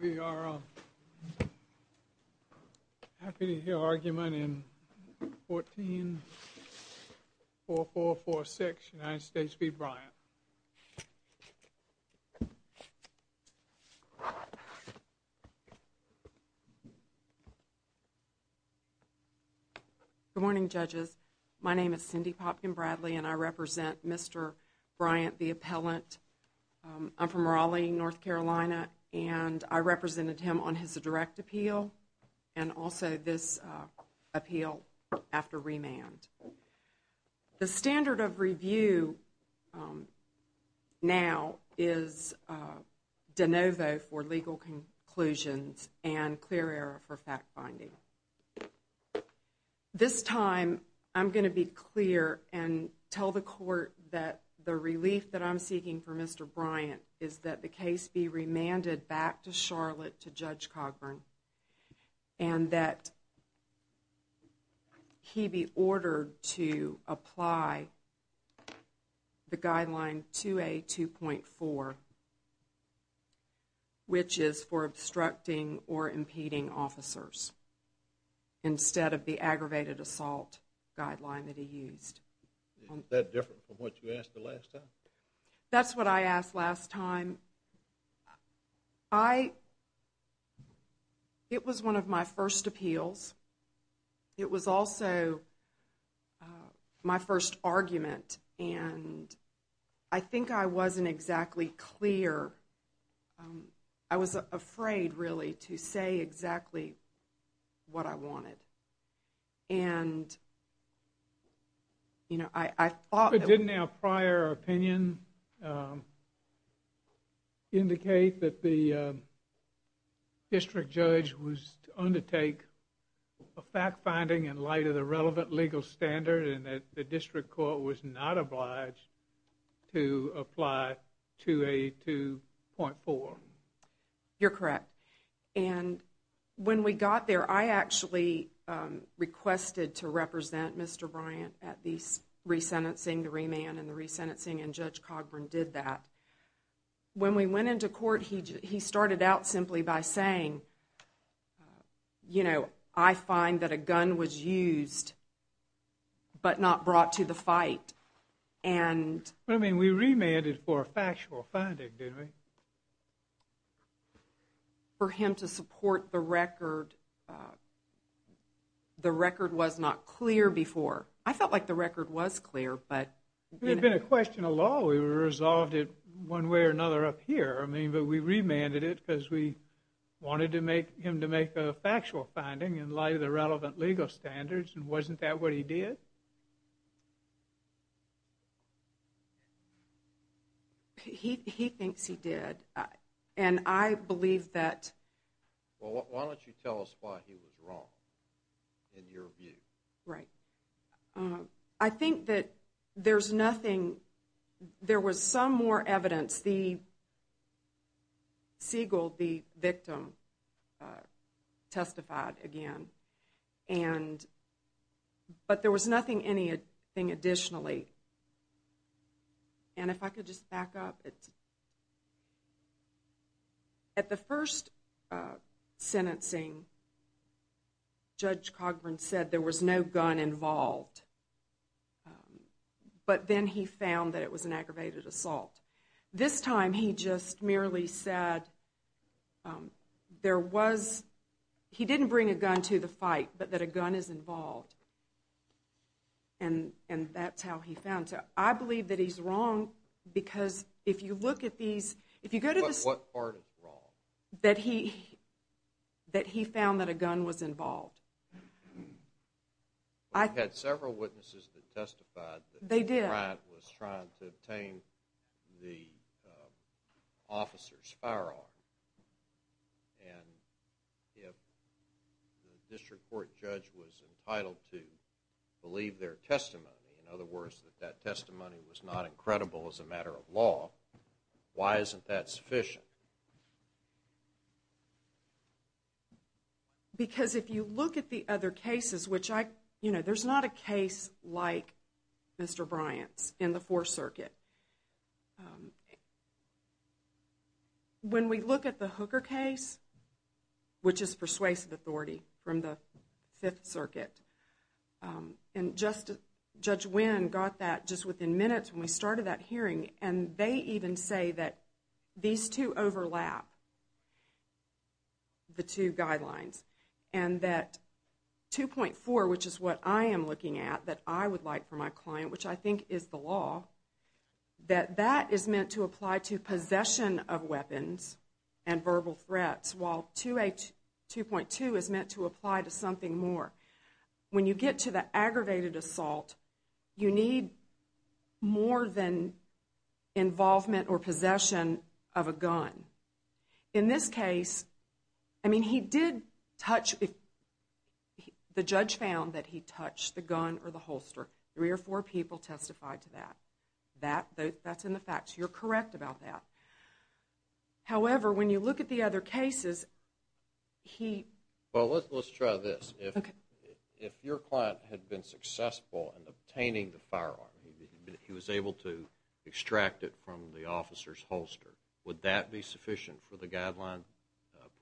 We are happy to hear argument in 14446 United States v. Bryant. Cindy Popkin Bradley Good morning, judges. My name is Cindy Popkin Bradley and I represent Mr. Bryant, the appellant. I'm from Raleigh, North Carolina, and I represented him on his direct appeal and also this appeal after remand. The standard of review now is de novo for legal conclusions and clear air for fact-finding. This time, I'm going to be clear and tell the court that the relief that I'm seeking for Mr. Bryant is that the case be remanded back to Charlotte to Judge Cogburn and that he be ordered to apply the guideline 2A.2.4, which is for obstructing or impeding officers, instead of the aggravated assault guideline that he used. That's what I asked last time. I, it was one of my first appeals. It was also my first argument and I think I wasn't exactly clear. I was afraid, really, to say exactly what I wanted. And, you know, I thought Didn't a prior opinion indicate that the district judge was to undertake a fact-finding in light of the relevant legal standard and that the district court was not obliged to apply 2A.2.4? You're correct. And when we got there, I actually requested to represent Mr. Bryant at the re-sentencing, the remand and the re-sentencing, and Judge Cogburn did that. When we went into court, he started out simply by saying, you know, I find that a gun was used but not brought to the fight. And, I mean, we remanded for factual finding, didn't we? For him to support the record, the record was not clear before. I felt like the record was clear, but It had been a question of law. We resolved it one way or another up here. I mean, but we remanded it because we wanted to make, him to make a factual finding in light of the relevant legal standards and wasn't that what he did? He thinks he did, and I believe that... Well, why don't you tell us why he was wrong, in your view? Right. I think that there's nothing, there was some more evidence. The seagull, the victim, testified again. And, but there was nothing, anything additionally. And if I could just back up, it's... At the first sentencing, Judge Cogburn said there was no gun involved. But then he found that it was an aggravated assault. This time, he just merely said, there was, he didn't bring a gun to the fight, but that a gun is involved. And that's how he found it. I believe that he's wrong, because if you look at these, if you go to... What part is wrong? That he, that he found that a gun was involved. We've had several witnesses that testified... They did. ...that Mr. Bryant was trying to obtain the officer's firearm. And if the district court judge was entitled to believe their testimony, in other words, that that testimony was not incredible as a matter of law, why isn't that sufficient? Because if you look at the other cases, which I, you know, there's not a case like Mr. Bryant's in the Fourth Circuit. When we look at the Hooker case, which is persuasive authority from the Fifth Circuit, and Judge Wynn got that just within minutes when we started that hearing, and they even say that these two overlap, the two guidelines, and that 2.4, which is what I am looking at, that I would like for my client, which I think is the law, that that is meant to apply to possession of weapons and verbal threats, while 2.2 is meant to apply to something more. When you get to the aggravated assault, you need more than involvement or possession of a gun. In this case, I mean, he did touch... The judge found that he touched the gun or the holster. Three or four people testified to that. That, that's in the facts. You're correct about that. However, when you look at the other cases, he... Well, let's try this. If your client had been successful in obtaining the firearm, he was able to extract it from the officer's holster, would that be sufficient for the guideline,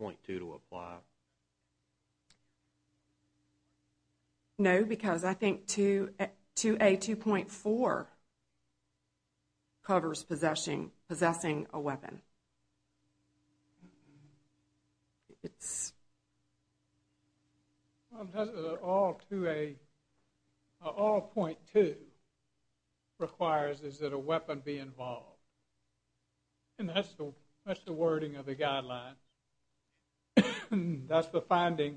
0.2, to apply? No, because I think 2A, 2.4, covers possessing a weapon. Well, it doesn't, all 2A, all 0.2 requires is that a weapon be involved. And that's the, that's the wording of the guideline. That's the finding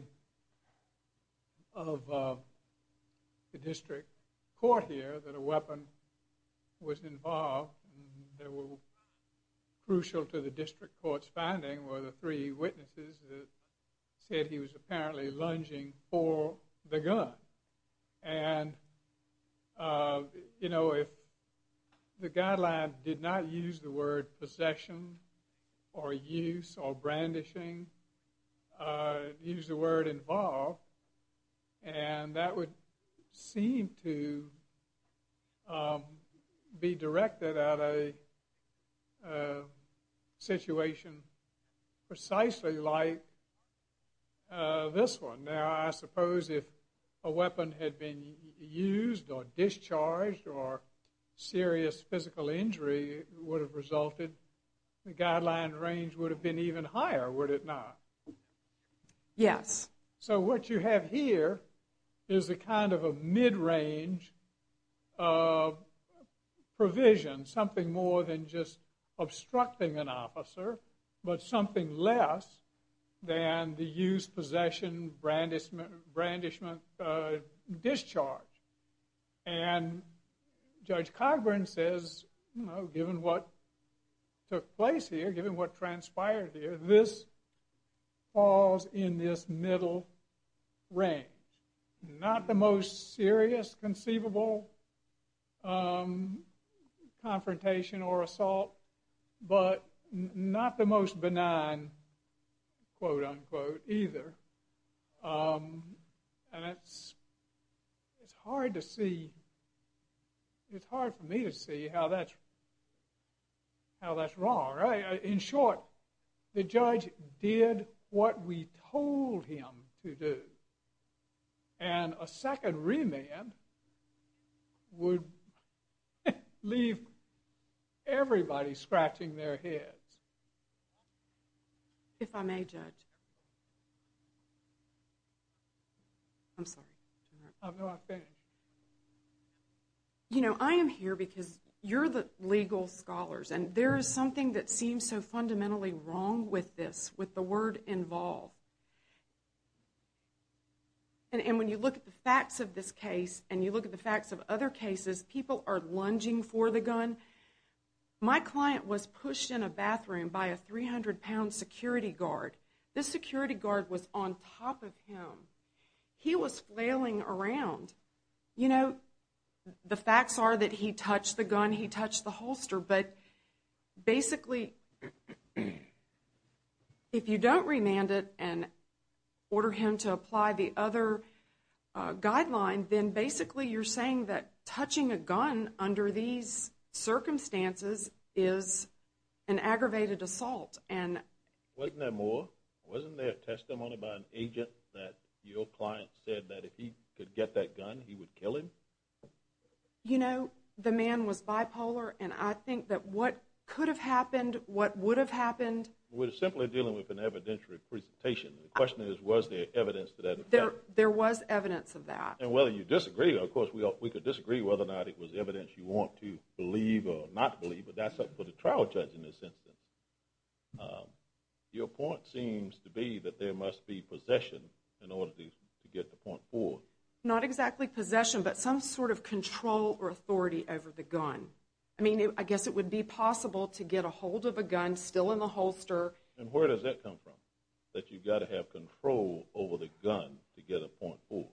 of the district court here, that a weapon was involved. They were crucial to the district court's finding, were the three witnesses that said he was apparently lunging for the gun. And, you know, if the guideline did not use the word possession or use or brandishing, or use the word involved, and that would seem to be directed at a situation precisely like this one. Now, I suppose if a weapon had been used or discharged, or serious physical injury would have resulted, the guideline range would have been even higher, would it not? Yes. So what you have here is a kind of a mid-range provision, something more than just obstructing an officer, but something less than the use, possession, brandishment, discharge. And Judge Cogburn says, you know, given what took place here, given what transpired here, this falls in this middle range. Not the most serious conceivable confrontation or assault, but not the most benign, quote-unquote, either. And it's hard to see, it's hard for me to see how that's wrong, right? In short, the judge did what we told him to do. And a second remand would leave everybody scratching their heads. If I may, Judge. I'm sorry. I'm not finished. You know, I am here because you're the legal scholars, and there is something that seems so fundamentally wrong with this, with the word involve. And when you look at the facts of this case, and you look at the facts of other cases, people are lunging for the gun. My client was pushed in a bathroom by a 300-pound security guard. This security guard was on top of him. He was flailing around. You know, the facts are that he touched the gun, he touched the holster, but basically, if you don't remand it, and order him to apply the other guideline, then basically you're saying that touching a gun under these circumstances is an aggravated assault. And wasn't there more? Wasn't there testimony by an agent that your client said that if he could get that gun, he would kill him? You know, the man was bipolar, and I think that what could have happened, what would have happened... We're simply dealing with an evidentiary presentation. The question is, was there evidence to that effect? There was evidence of that. And whether you disagree, of course, we could disagree whether or not it was evidence you want to believe or not believe, but that's up for the trial judge in this instance. Your point seems to be that there must be possession in order to get the point forward. Not exactly possession, but some sort of control or authority over the gun. I mean, I guess it would be possible to get a hold of a gun still in the holster. And where does that come from, that you've got to have control over the gun to get a point forward?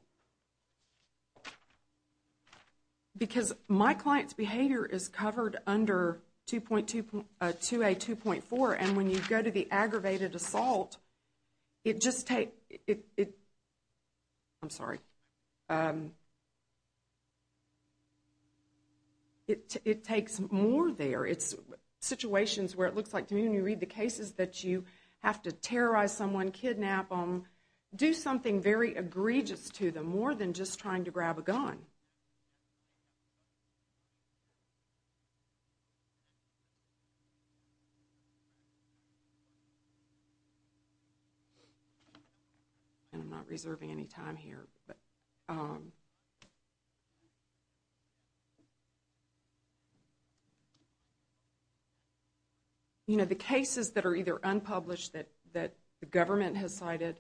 Because my client's behavior is covered under 2A2.4, and when you go to the aggravated assault, it just takes... It... I'm sorry. It takes more there. It's situations where it looks like to me when you read the cases that you have to terrorize someone, kidnap them, do something very egregious to them, more than just trying to grab a gun. And I'm not reserving any time here. You know, the cases that are either unpublished that the government has cited,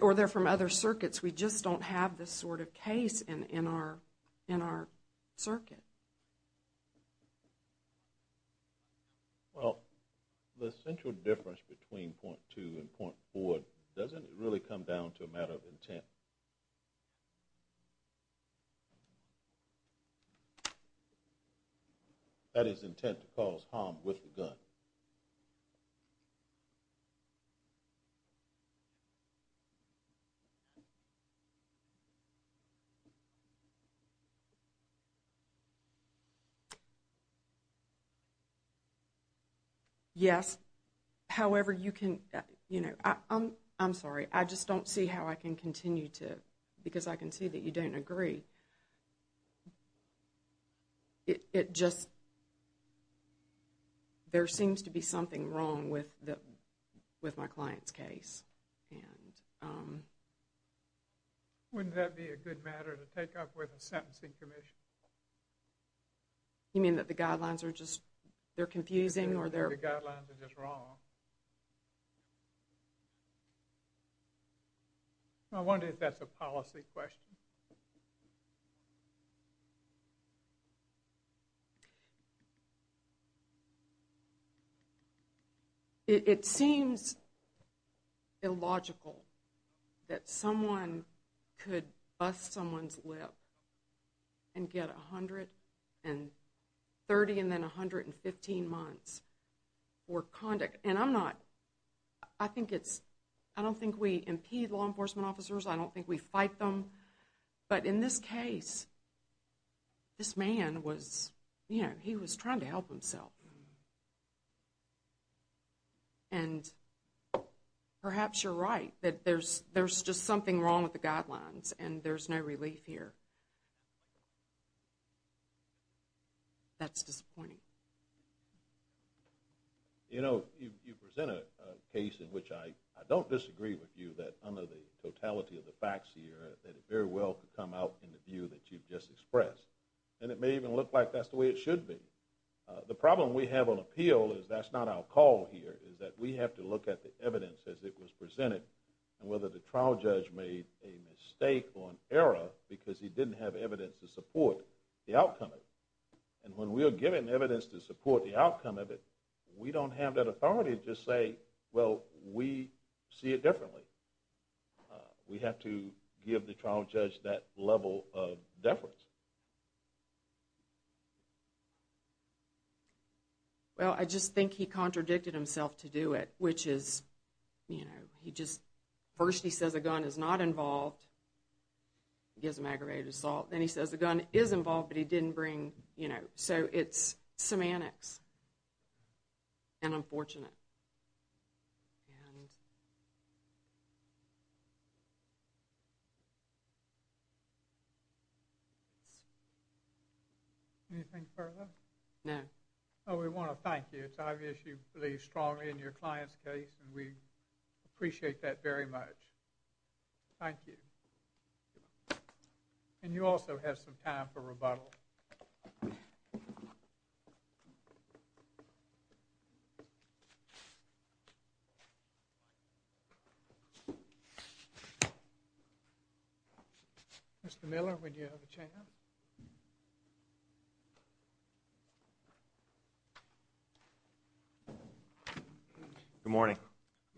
or they're from other circuits, we just don't have this sort of case in our circuit. Well, the central difference between point two and point four doesn't really come down to a matter of intent. That is intent to cause harm with the gun. Yes. However, you can, you know... I'm sorry. I just don't see how I can continue to... Because I can see that you don't agree. It just... There seems to be something wrong with my client's case. Wouldn't that be a good matter to take up with a sentencing commission? You mean that the guidelines are just... They're confusing or they're... The guidelines are just wrong. I wonder if that's a policy question. It seems illogical that someone could bust someone's lip and get 130 and then 115 months for conduct. And I'm not... I think it's... I don't think we impede law enforcement officers. I don't think we fight them. But in this case, this man was... You know, he was trying to help himself. And perhaps you're right, that there's just something wrong with the guidelines and there's no relief here. That's disappointing. You know, you present a case in which I don't disagree with you that under the totality of the facts here, that it very well could come out in the view that you've just expressed. And it may even look like that's the way it should be. The problem we have on appeal is that's not our call here, is that we have to look at the evidence as it was presented and whether the trial judge made a mistake or an error because he didn't have evidence to support the outcome of it. And when we are given evidence, to support the outcome of it, we don't have that authority to just say, well, we see it differently. We have to give the trial judge that level of deference. Well, I just think he contradicted himself to do it, which is, you know, he just... First, he says a gun is not involved. He gives him aggravated assault. Then he says a gun is involved, but he didn't bring, you know... So it's semantics. And unfortunate. And... Anything further? No. Well, we want to thank you. It's obvious you believe strongly in your client's case, and we appreciate that very much. Thank you. And you also have some time for rebuttal. Thank you. Mr. Miller, would you have a chance? Good morning.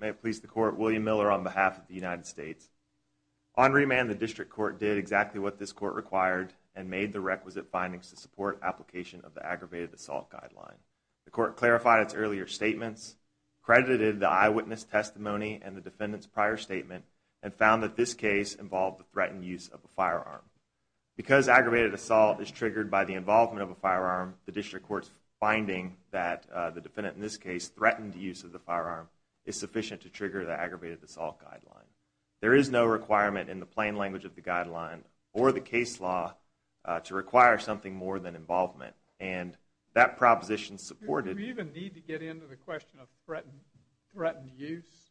May it please the court, William Miller on behalf of the United States. On remand, the district court did exactly what this court required and made the requisite findings to support application of the aggravated assault guideline. The court clarified its earlier statements, credited the eyewitness testimony and the defendant's prior statement, and found that this case involved the threatened use of a firearm. Because aggravated assault is triggered by the involvement of a firearm, the district court's finding that the defendant in this case threatened use of the firearm is sufficient to trigger the aggravated assault guideline. There is no requirement in the plain language of the guideline or the case law to require something more than involvement. And that proposition supported... Do we even need to get into the question of threatened use?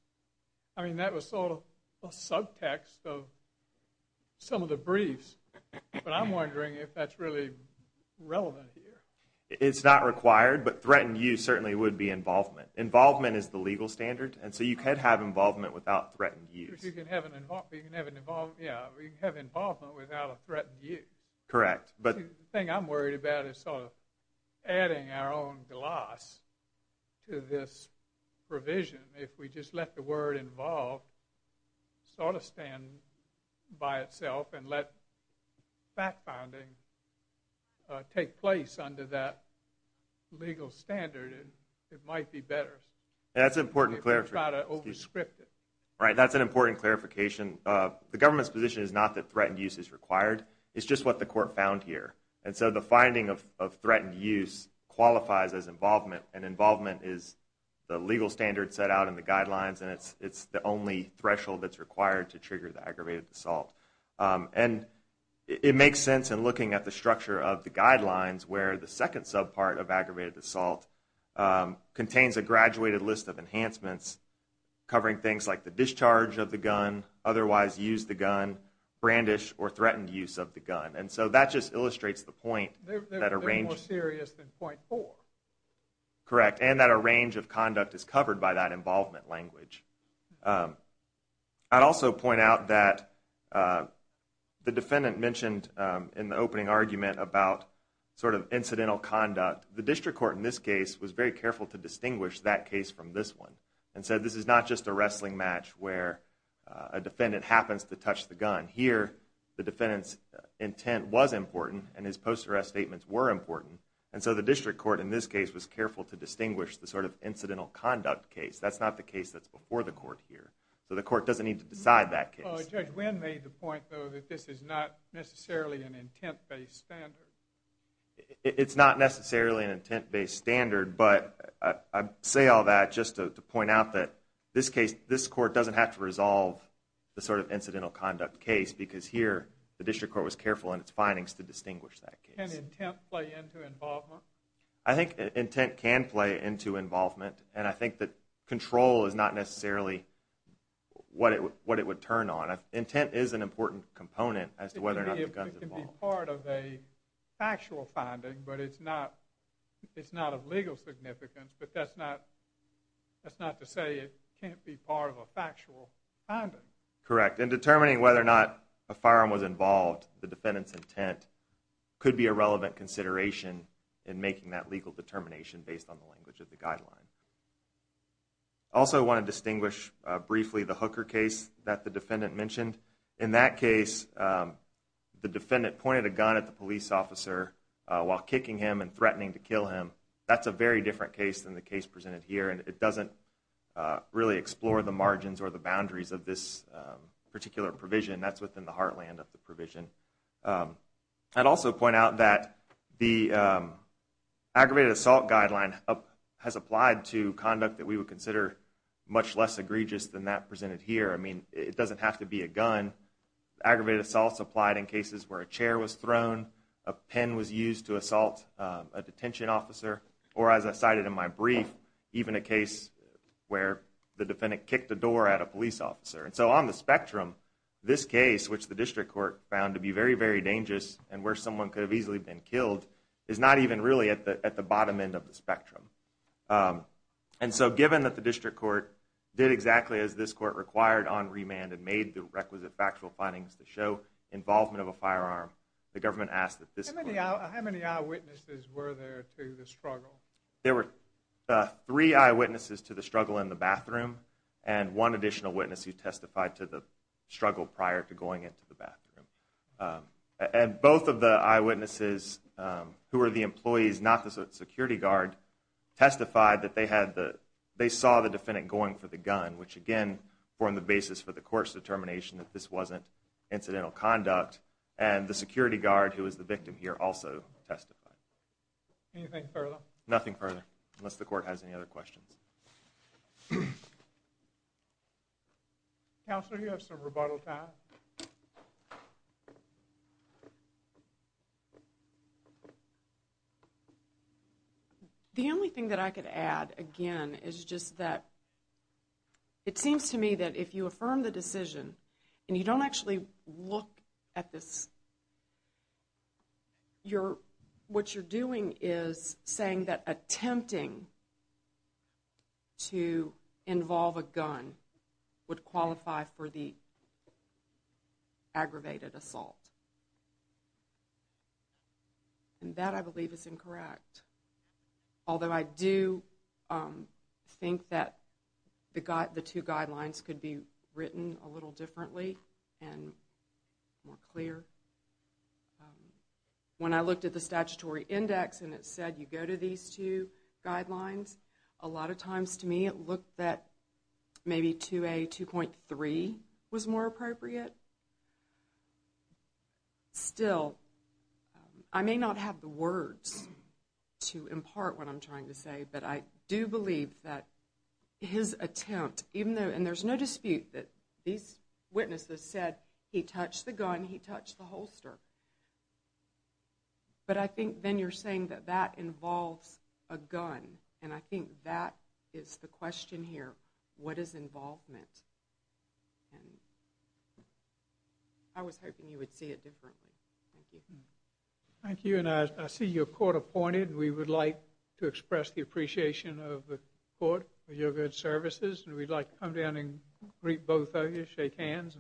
I mean, that was sort of a subtext of some of the briefs, but I'm wondering if that's really relevant here. It's not required, but threatened use certainly would be involvement. Involvement is the legal standard, and so you could have involvement without threatened use. You can have involvement without a threatened use. Correct. But the thing I'm worried about is sort of adding our own gloss to this provision. If we just let the word involved sort of stand by itself and let fact-finding take place under that legal standard, it might be better. That's an important clarification. If we try to over-script it. That's an important clarification. The government's position is not that threatened use is required. It's just what the court found here. And so the finding of threatened use qualifies as involvement, and involvement is the legal standard set out in the guidelines, and it's the only threshold that's required to trigger the aggravated assault. And it makes sense in looking at the structure of the guidelines contains a graduated list of enhancements covering things like the discharge of the gun, otherwise used the gun, brandish, or threatened use of the gun. And so that just illustrates the point. They're more serious than point four. Correct. And that a range of conduct is covered by that involvement language. I'd also point out that the defendant mentioned in the opening argument about sort of incidental conduct. The district court in this case was very careful to distinguish that case from this one. And so this is not just a wrestling match where a defendant happens to touch the gun. Here, the defendant's intent was important, and his post-arrest statements were important. And so the district court in this case was careful to distinguish the sort of incidental conduct case. That's not the case that's before the court here. So the court doesn't need to decide that case. Judge Wynn made the point, though, that this is not necessarily an intent-based standard. It's not necessarily an intent-based standard, but I say all that just to point out that this case, this court doesn't have to resolve the sort of incidental conduct case. Because here, the district court was careful in its findings to distinguish that case. Can intent play into involvement? I think intent can play into involvement. And I think that control is not necessarily what it would turn on. Intent is an important component as to whether or not the gun's involved. It can be part of a factual finding, but it's not of legal significance. But that's not to say it can't be part of a factual finding. Correct. In determining whether or not a firearm was involved, the defendant's intent could be a relevant consideration in making that legal determination based on the language of the guideline. I also want to distinguish briefly the Hooker case that the defendant mentioned. In that case, the defendant pointed a gun at the police officer while kicking him and threatening to kill him. That's a very different case than the case presented here, and it doesn't really explore the margins or the boundaries of this particular provision. That's within the heartland of the provision. I'd also point out that the aggravated assault guideline has applied to conduct that we would consider much less egregious than that presented here. I mean, it doesn't have to be a gun. Aggravated assault's applied in cases where a chair was thrown, a pen was used to assault a detention officer, or as I cited in my brief, even a case where the defendant kicked a door at a police officer. And so on the spectrum, this case, which the district court found to be very, very dangerous, and where someone could have easily been killed, is not even really at the bottom end of the spectrum. And so given that the district court did exactly as this court required on remand and made the requisite factual findings to show involvement of a firearm, the government asked that this court- How many eyewitnesses were there to the struggle? There were three eyewitnesses to the struggle in the bathroom, and one additional witness who testified to the struggle prior to going into the bathroom. And both of the eyewitnesses who were the employees, not the security guard, testified that they saw the defendant going for the gun, which again formed the basis for the court's determination that this wasn't incidental conduct. And the security guard who was the victim here also testified. Anything further? Nothing further, unless the court has any other questions. Counselor, you have some rebuttal time. The only thing that I could add, again, is just that it seems to me that if you affirm the decision and you don't actually look at this, what you're doing is saying that attempting to involve a gun would qualify for the aggravated assault. And that, I believe, is incorrect. Although I do think that the two guidelines could be written a little differently and more clear. When I looked at the statutory index and it said you go to these two guidelines, a lot of times to me it looked that maybe 2A.2.3 was more appropriate. Still, I may not have the words to impart what I'm trying to say, but I do believe that his attempt, and there's no dispute that these witnesses said he touched the gun, he touched the holster. But I think then you're saying that that involves a gun. And I think that is the question here. What is involvement? And I was hoping you would see it differently. Thank you. Thank you. And I see you're court appointed. We would like to express the appreciation of the court for your good services. And we'd like to come down and greet both of you, shake hands.